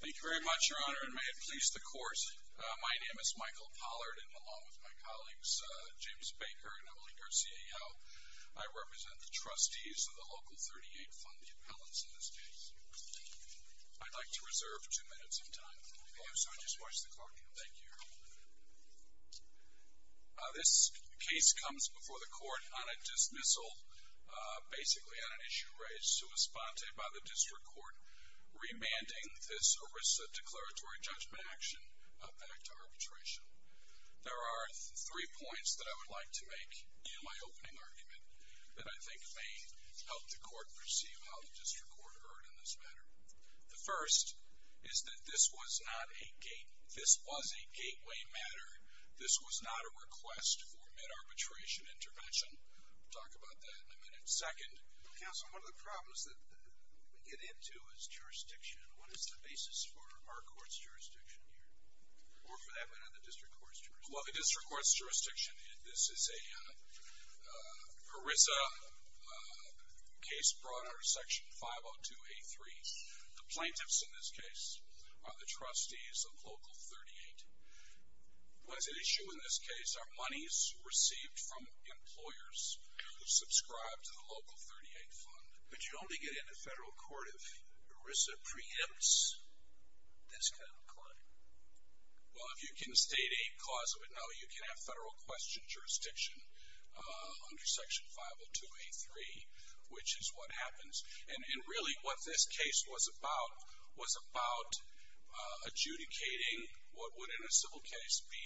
Thank you very much, Your Honor, and may it please the Court, my name is Michael Pollard, and along with my colleagues, James Baker and Emily Garcia-Yo, I represent the Trustees of the Local 38 Fund, the appellants in this case. I'd like to reserve two minutes of time. Okay, I'm sorry, just watch the clock. Thank you, Your Honor. This case comes before the Court on a dismissal, basically on an issue raised to a sponte by the District Court, remanding this ERISA declaratory judgment action back to arbitration. There are three points that I would like to make in my opening argument that I think may help the Court perceive how the District Court heard on this matter. The first is that this was not a gate, this was a gateway matter. This was not a request for mid-arbitration intervention. We'll talk about that in a minute. Second, Counsel, one of the problems that we get into is jurisdiction. What is the basis for our Court's jurisdiction here, or for that matter, the District Court's jurisdiction? Well, the District Court's jurisdiction, this is an ERISA case brought under Section 502A3. The plaintiffs in this case are the Trustees of Local 38. What is at issue in this case are monies received from employers who subscribe to the Local 38 Fund. But you only get into federal court if ERISA preempts this kind of claim. Well, if you can state a cause of it, no, you can have federal question jurisdiction under Section 502A3, which is what happens. And really, what this case was about was about adjudicating what would, in a civil case, be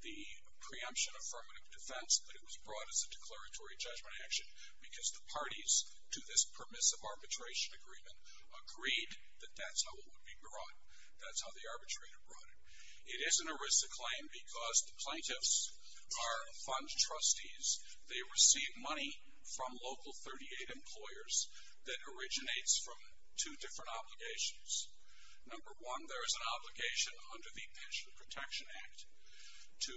the preemption of affirmative defense, but it was brought as a declaratory judgment action because the parties to this permissive arbitration agreement agreed that that's how it would be brought. That's how the arbitrator brought it. It is an ERISA claim because the plaintiffs are fund trustees. They receive money from Local 38 employers that originates from two different obligations. Number one, there is an obligation under the Pension Protection Act to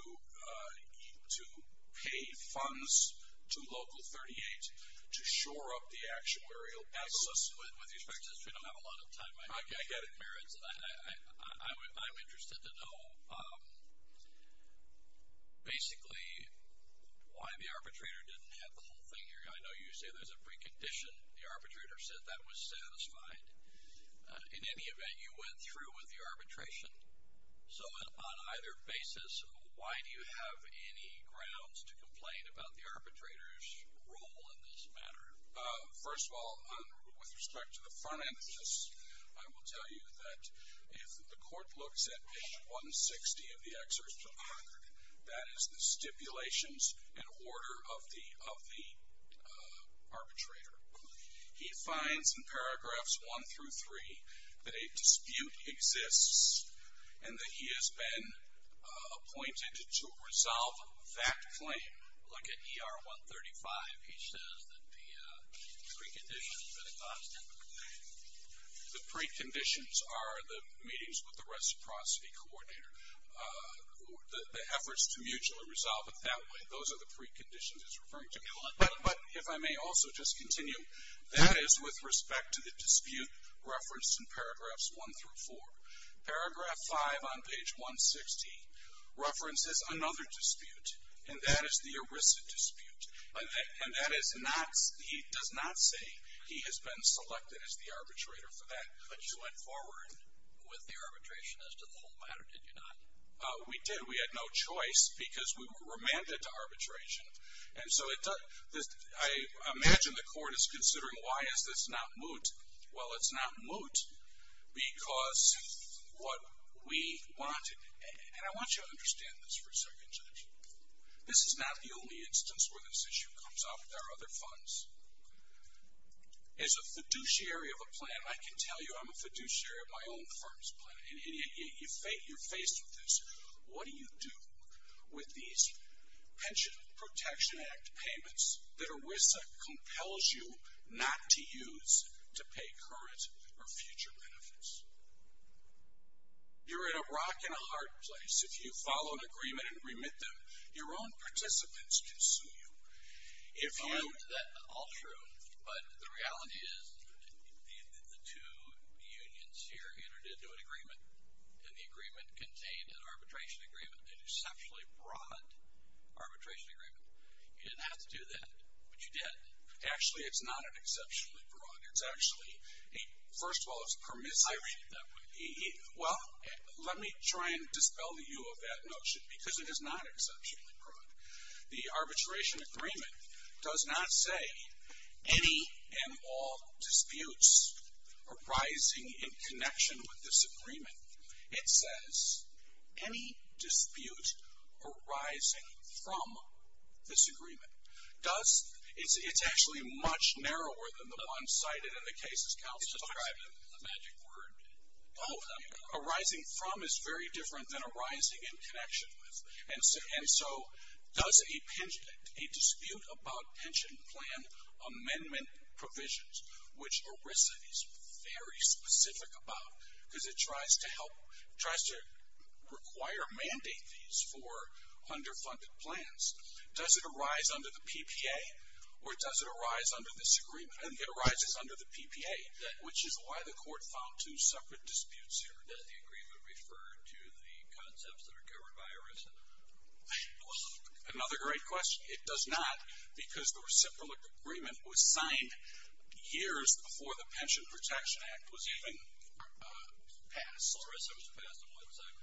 pay funds to Local 38 to shore up the actuarial basis. With respect to this, we don't have a lot of time. I get it. I'm interested to know, basically, why the arbitrator didn't have the whole thing here. I know you say there's a precondition. The arbitrator said that was satisfied. In any event, you went through with the arbitration. So on either basis, why do you have any grounds to complain about the arbitrator's role in this matter? First of all, with respect to the front end of this, I will tell you that if the court looks at page 160 of the excerpt from the record, that is the stipulations and order of the arbitrator. He finds in paragraphs 1 through 3 that a dispute exists and that he has been appointed to resolve that claim. Like at ER 135, he says that the preconditions are the top step. The preconditions are the meetings with the reciprocity coordinator, the efforts to mutually resolve it that way. Those are the preconditions he's referring to. But if I may also just continue, that is with respect to the dispute referenced in paragraphs 1 through 4. Paragraph 5 on page 160 references another dispute, and that is the ERISA dispute. And he does not say he has been selected as the arbitrator for that. But you went forward with the arbitration as to the whole matter, did you not? We did. We had no choice because we were remanded to arbitration. And so I imagine the court is considering why is this not moot. Well, it's not moot because what we wanted, and I want you to understand this for a second, Judge. This is not the only instance where this issue comes up. There are other funds. As a fiduciary of a plan, I can tell you I'm a fiduciary of my own firm's plan, and you're faced with this. What do you do with these Pension Protection Act payments that ERISA compels you not to use to pay current or future benefits? You're in a rock-and-hard place. If you follow an agreement and remit them, your own participants can sue you. All true, but the reality is the two unions here entered into an agreement, and the agreement contained an arbitration agreement, an exceptionally broad arbitration agreement. You didn't have to do that, but you did. Actually, it's not an exceptionally broad. It's actually, first of all, it's permissive. I read that way. Well, let me try and dispel the ewe of that notion because it is not exceptionally broad. The arbitration agreement does not say any and all disputes arising in connection with this agreement. It says any dispute arising from this agreement. It's actually much narrower than the one cited in the case's counsel document. It's a magic word. Oh, arising from is very different than arising in connection with. And so does a dispute about pension plan amendment provisions, which ERISA is very specific about because it tries to help, tries to require or mandate these for underfunded plans, does it arise under the PPA or does it arise under this agreement? It arises under the PPA, which is why the court found two separate disputes here. Does the agreement refer to the concepts that are covered by ERISA? Another great question. It does not because the reciprocal agreement was signed years before the Pension Protection Act was even passed. ERISA was passed in what time?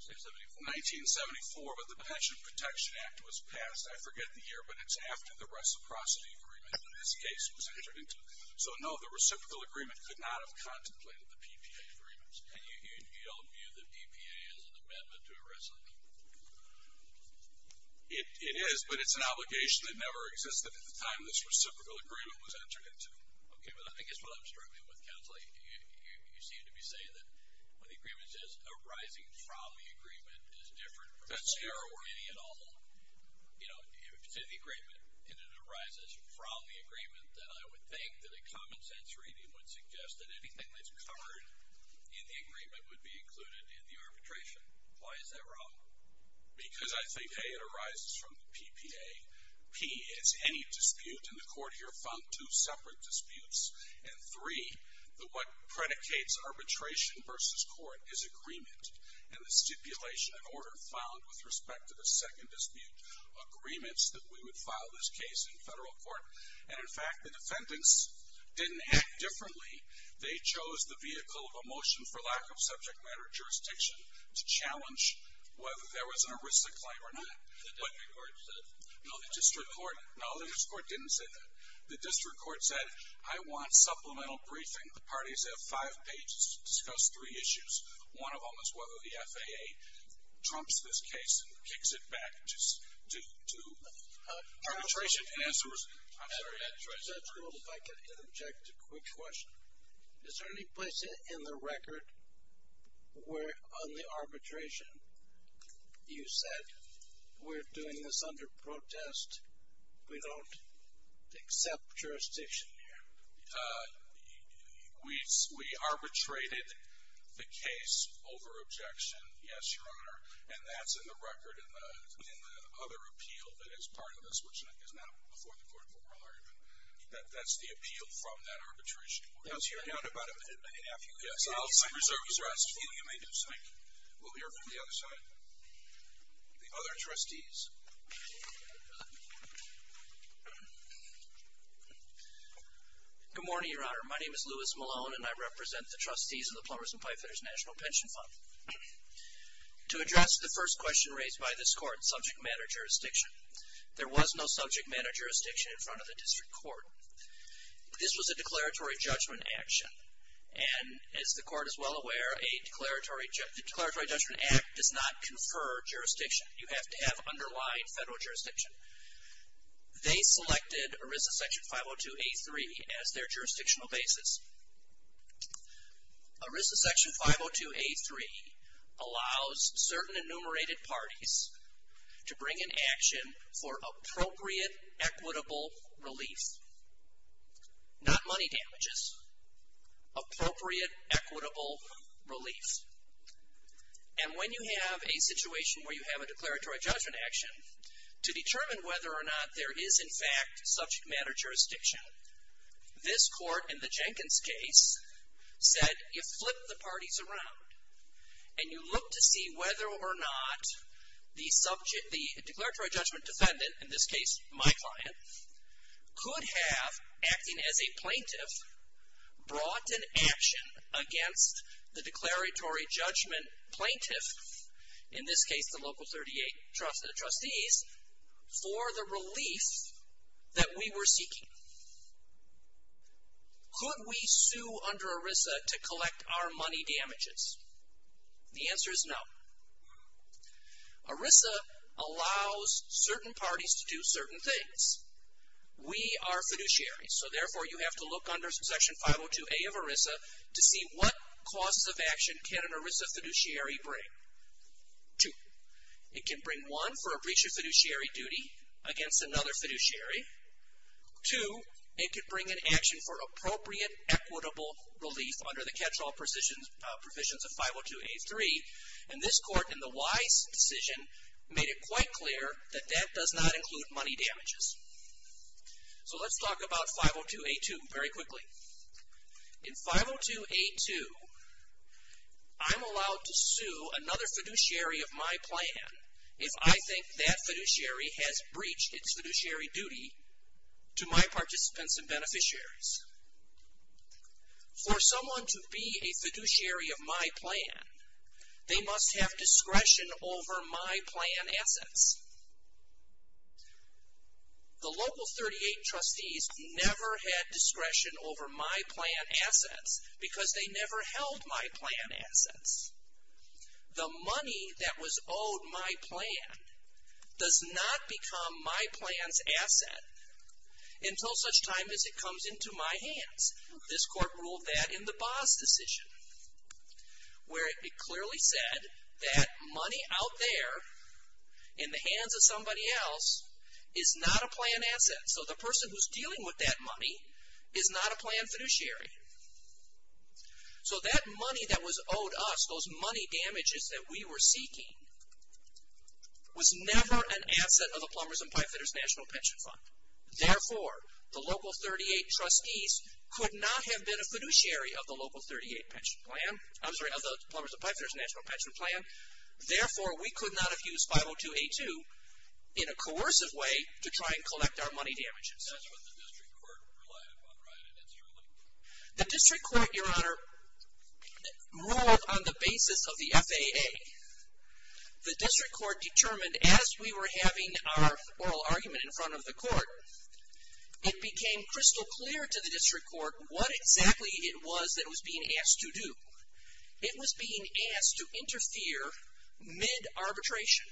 1974. 1974, but the Pension Protection Act was passed, I forget the year, but it's after the reciprocity agreement in this case was entered into. So, no, the reciprocal agreement could not have contemplated the PPA agreements. And you don't view the PPA as an amendment to ERISA? It is, but it's an obligation that never existed at the time this reciprocal agreement was entered into. Okay, but I think that's what I'm struggling with, Counselor. You seem to be saying that when the agreement says arising from the agreement is different. That's the error word. You know, if it's in the agreement and it arises from the agreement, then I would think that a common-sense reading would suggest that anything that's covered in the agreement would be included in the arbitration. Why is that wrong? Because I think, hey, it arises from the PPA. P is any dispute, and the Court here found two separate disputes. And 3, what predicates arbitration versus court is agreement. And the stipulation and order found with respect to the second dispute agreements that we would file this case in federal court. And, in fact, the defendants didn't act differently. They chose the vehicle of a motion for lack of subject matter jurisdiction to challenge whether there was an ERISA claim or not. The district court said? No, the district court didn't say that. The district court said, I want supplemental briefing. The parties have five pages to discuss three issues. One of them is whether the FAA trumps this case and kicks it back to arbitration. Judge Gould, if I could interject a quick question. Is there any place in the record where on the arbitration you said, we're doing this under protest, we don't accept jurisdiction here? We arbitrated the case over objection, yes, Your Honor. And that's in the record in the other appeal that is part of this, which is now before the court for oral argument. That's the appeal from that arbitration. I'll hear about it in a few minutes. Yes, I'll reserve the rest for you. You may do so. We'll hear from the other side. The other trustees. Good morning, Your Honor. My name is Louis Malone, and I represent the trustees of the Plumbers and Pipefitters National Pension Fund. To address the first question raised by this court, subject matter jurisdiction, there was no subject matter jurisdiction in front of the district court. This was a declaratory judgment action. And as the court is well aware, a declaratory judgment act does not confer jurisdiction. You have to have underlying federal jurisdiction. They selected ERISA section 502A3 as their jurisdictional basis. ERISA section 502A3 allows certain enumerated parties to bring an action for appropriate equitable relief. Not money damages. Appropriate equitable relief. And when you have a situation where you have a declaratory judgment action, to determine whether or not there is in fact subject matter jurisdiction, this court in the Jenkins case said you flip the parties around and you look to see whether or not the subject, the declaratory judgment defendant, in this case my client, could have, acting as a plaintiff, brought an action against the declaratory judgment plaintiff, in this case the local 38 trustees, for the relief that we were seeking. Could we sue under ERISA to collect our money damages? The answer is no. ERISA allows certain parties to do certain things. We are fiduciaries, so therefore you have to look under section 502A of ERISA to see what causes of action can an ERISA fiduciary bring. Two. It can bring one for a breach of fiduciary duty against another fiduciary. Two, it can bring an action for appropriate equitable relief under the catch-all provisions of 502A3, and this court in the Wise decision made it quite clear that that does not include money damages. So let's talk about 502A2 very quickly. In 502A2, I'm allowed to sue another fiduciary of my plan if I think that fiduciary has breached its fiduciary duty to my participants and beneficiaries. For someone to be a fiduciary of my plan, they must have discretion over my plan assets. The local 38 trustees never had discretion over my plan assets because they never held my plan assets. The money that was owed my plan does not become my plan's asset until such time as it comes into my hands. This court ruled that in the Boss decision where it clearly said that money out there in the hands of somebody else is not a plan asset. So the person who's dealing with that money is not a plan fiduciary. So that money that was owed us, those money damages that we were seeking, was never an asset of the Plumbers and Pipefitters National Pension Fund. Therefore, the local 38 trustees could not have been a fiduciary of the local 38 pension plan. I'm sorry, of the Plumbers and Pipefitters National Pension Plan. Therefore, we could not have used 502A2 in a coercive way to try and collect our money damages. The district court, Your Honor, ruled on the basis of the FAA. The district court determined, as we were having our oral argument in front of the court, it became crystal clear to the district court what exactly it was that it was being asked to do. It was being asked to interfere mid-arbitration.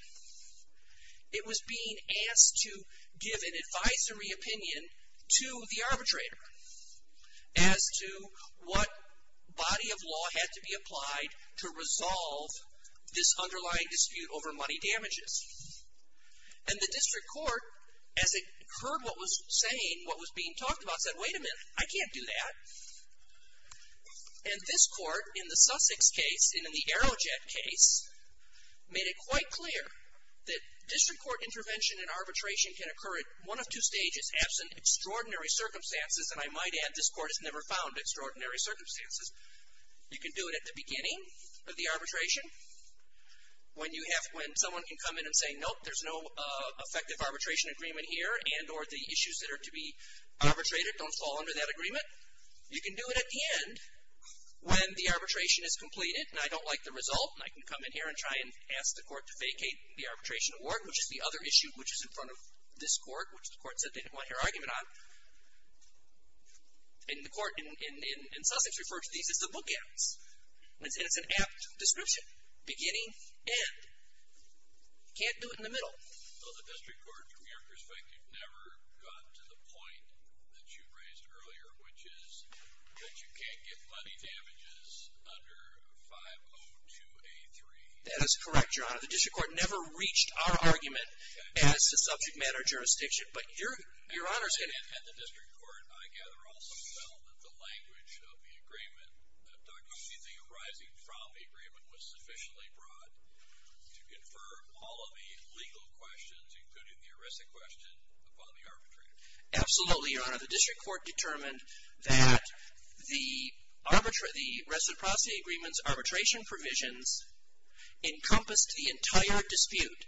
It was being asked to give an advisory opinion to the arbitrator as to what body of law had to be applied to resolve this underlying dispute over money damages. And the district court, as it heard what was being talked about, said, wait a minute, I can't do that. And this court, in the Sussex case and in the Aerojet case, made it quite clear that district court intervention and arbitration can occur at one of two stages, absent extraordinary circumstances, and I might add this court has never found extraordinary circumstances. You can do it at the beginning of the arbitration, when someone can come in and say, nope, there's no effective arbitration agreement here, and or the issues that are to be arbitrated don't fall under that agreement. You can do it at the end, when the arbitration is completed, and I don't like the result, and I can come in here and try and ask the court to vacate the arbitration award, which is the other issue which is in front of this court, which the court said they didn't want your argument on. And the court in Sussex refers to these as the bookends. And it's an apt description. Beginning, end. Can't do it in the middle. Well, the district court, from your perspective, never got to the point that you raised earlier, which is that you can't get money damages under 502A3. That is correct, Your Honor. The district court never reached our argument as the subject matter jurisdiction, but Your Honor's going to... And the district court, I gather, also felt that the language of the agreement, that anything arising from the agreement was sufficiently broad to confer all of the legal questions, including the arresting question, upon the arbitrator. Absolutely, Your Honor. The district court determined that the reciprocity agreement's arbitration provisions encompassed the entire dispute,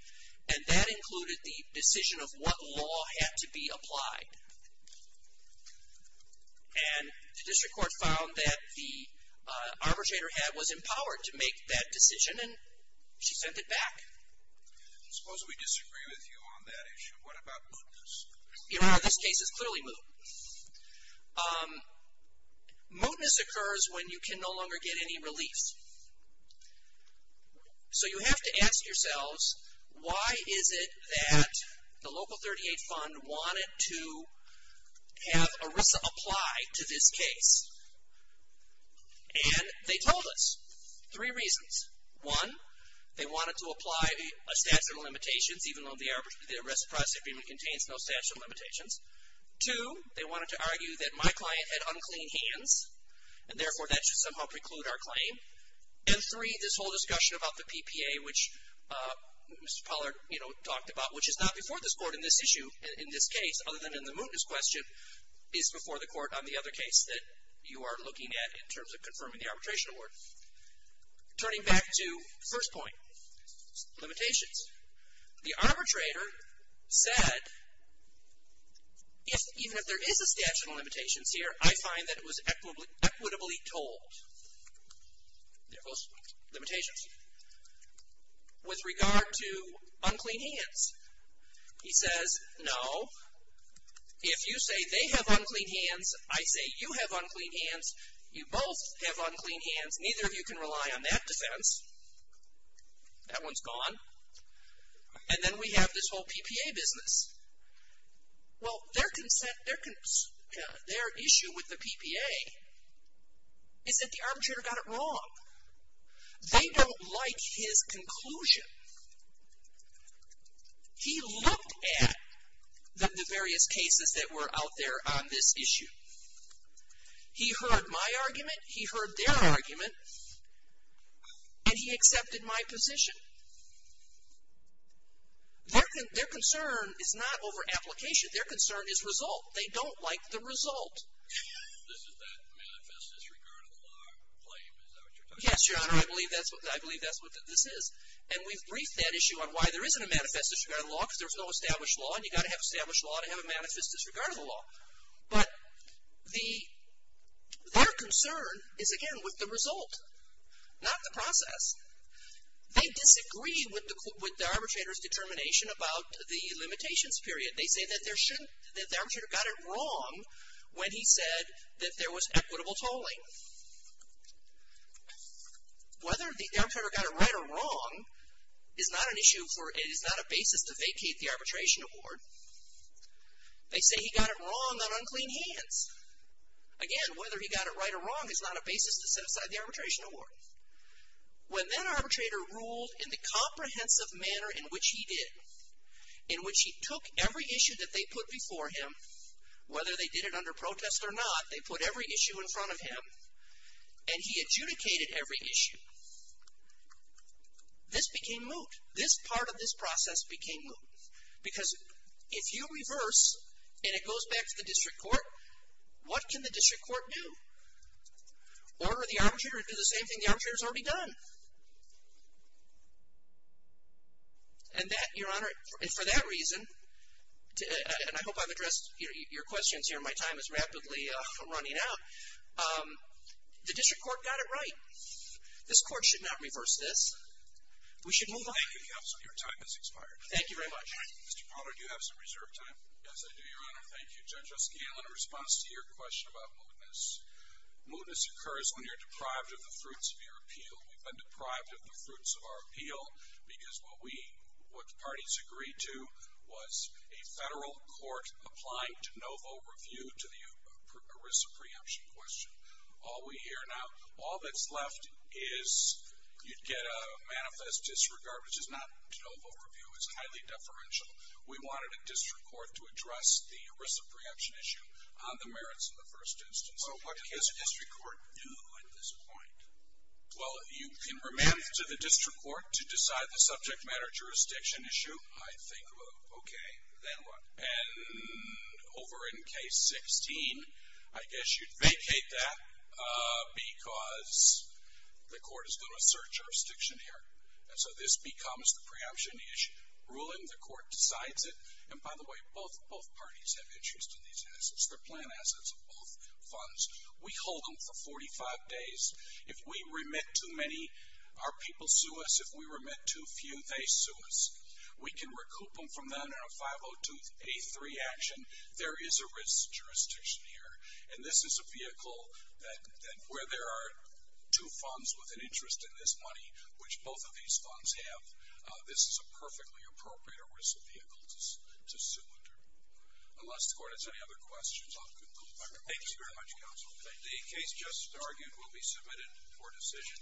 and that included the decision of what law had to be applied. And the district court found that the arbitrator was empowered to make that decision, and she sent it back. Suppose we disagree with you on that issue. What about mootness? Your Honor, this case is clearly moot. Mootness occurs when you can no longer get any relief. So you have to ask yourselves, why is it that the local 38 Fund wanted to have ERISA apply to this case? And they told us three reasons. One, they wanted to apply a statute of limitations, even though the reciprocity agreement contains no statute of limitations. Two, they wanted to argue that my client had unclean hands, and therefore that should somehow preclude our claim. And three, this whole discussion about the PPA, which Mr. Pollard talked about, which is not before this court in this issue, in this case, other than in the mootness question, is before the court on the other case that you are looking at in terms of confirming the arbitration award. Turning back to the first point, limitations. The arbitrator said, even if there is a statute of limitations here, I find that it was equitably told. There goes limitations. With regard to unclean hands, he says, no, if you say they have unclean hands, I say you have unclean hands, you both have unclean hands, neither of you can rely on that defense. That one's gone. And then we have this whole PPA business. Well, their issue with the PPA is that the arbitrator got it wrong. They don't like his conclusion. He looked at the various cases that were out there on this issue. He heard my argument, he heard their argument, and he accepted my position. Their concern is not over application. Their concern is result. They don't like the result. Yes, Your Honor, I believe that's what this is. And we've briefed that issue on why there isn't a manifest disregard of the law, because there's no established law, and you've got to have established law to have a manifest disregard of the law. But their concern is, again, with the result, not the process. They disagree with the arbitrator's determination about the limitations period. They say that the arbitrator got it wrong when he said that there was equitable tolling. Whether the arbitrator got it right or wrong is not an issue for, is not a basis to vacate the arbitration award. They say he got it wrong on unclean hands. Again, whether he got it right or wrong is not a basis to set aside the arbitration award. When that arbitrator ruled in the comprehensive manner in which he did, in which he took every issue that they put before him, whether they did it under protest or not, they put every issue in front of him, and he adjudicated every issue. This became moot. This part of this process became moot. Because if you reverse and it goes back to the district court, what can the district court do? Order the arbitrator to do the same thing the arbitrator's already done. And that, Your Honor, and for that reason, and I hope I've addressed your questions here. My time is rapidly running out. The district court got it right. This court should not reverse this. We should move on. Thank you, counsel. Your time has expired. Thank you very much. Mr. Pollard, do you have some reserve time? Yes, I do, Your Honor. Thank you. Judge O'Scann, in response to your question about mootness, mootness occurs when you're deprived of the fruits of your appeal. We've been deprived of the fruits of our appeal because what we, what the parties agreed to was a federal court applying de novo review to the ERISA preemption question. All we hear now, all that's left is you'd get a manifest disregard, which is not de novo review. It's highly deferential. We wanted a district court to address the ERISA preemption issue on the merits of the first instance. So what can the district court do at this point? Well, you can remand to the district court to decide the subject matter jurisdiction issue. I think, okay, then what? And over in case 16, I guess you'd vacate that because the court is going to assert jurisdiction here. And so this becomes the preemption issue. Ruling the court decides it. And, by the way, both parties have interest in these assets. They're planned assets of both funds. We hold them for 45 days. If we remit too many, our people sue us. If we remit too few, they sue us. We can recoup them from them in a 502A3 action. There is a risk jurisdiction here. And this is a vehicle that where there are two funds with an interest in this money, which both of these funds have, this is a perfectly appropriate ERISA vehicle to sue under. Unless the court has any other questions, I'll conclude. Thank you very much, Counsel. The case just argued will be submitted for decision.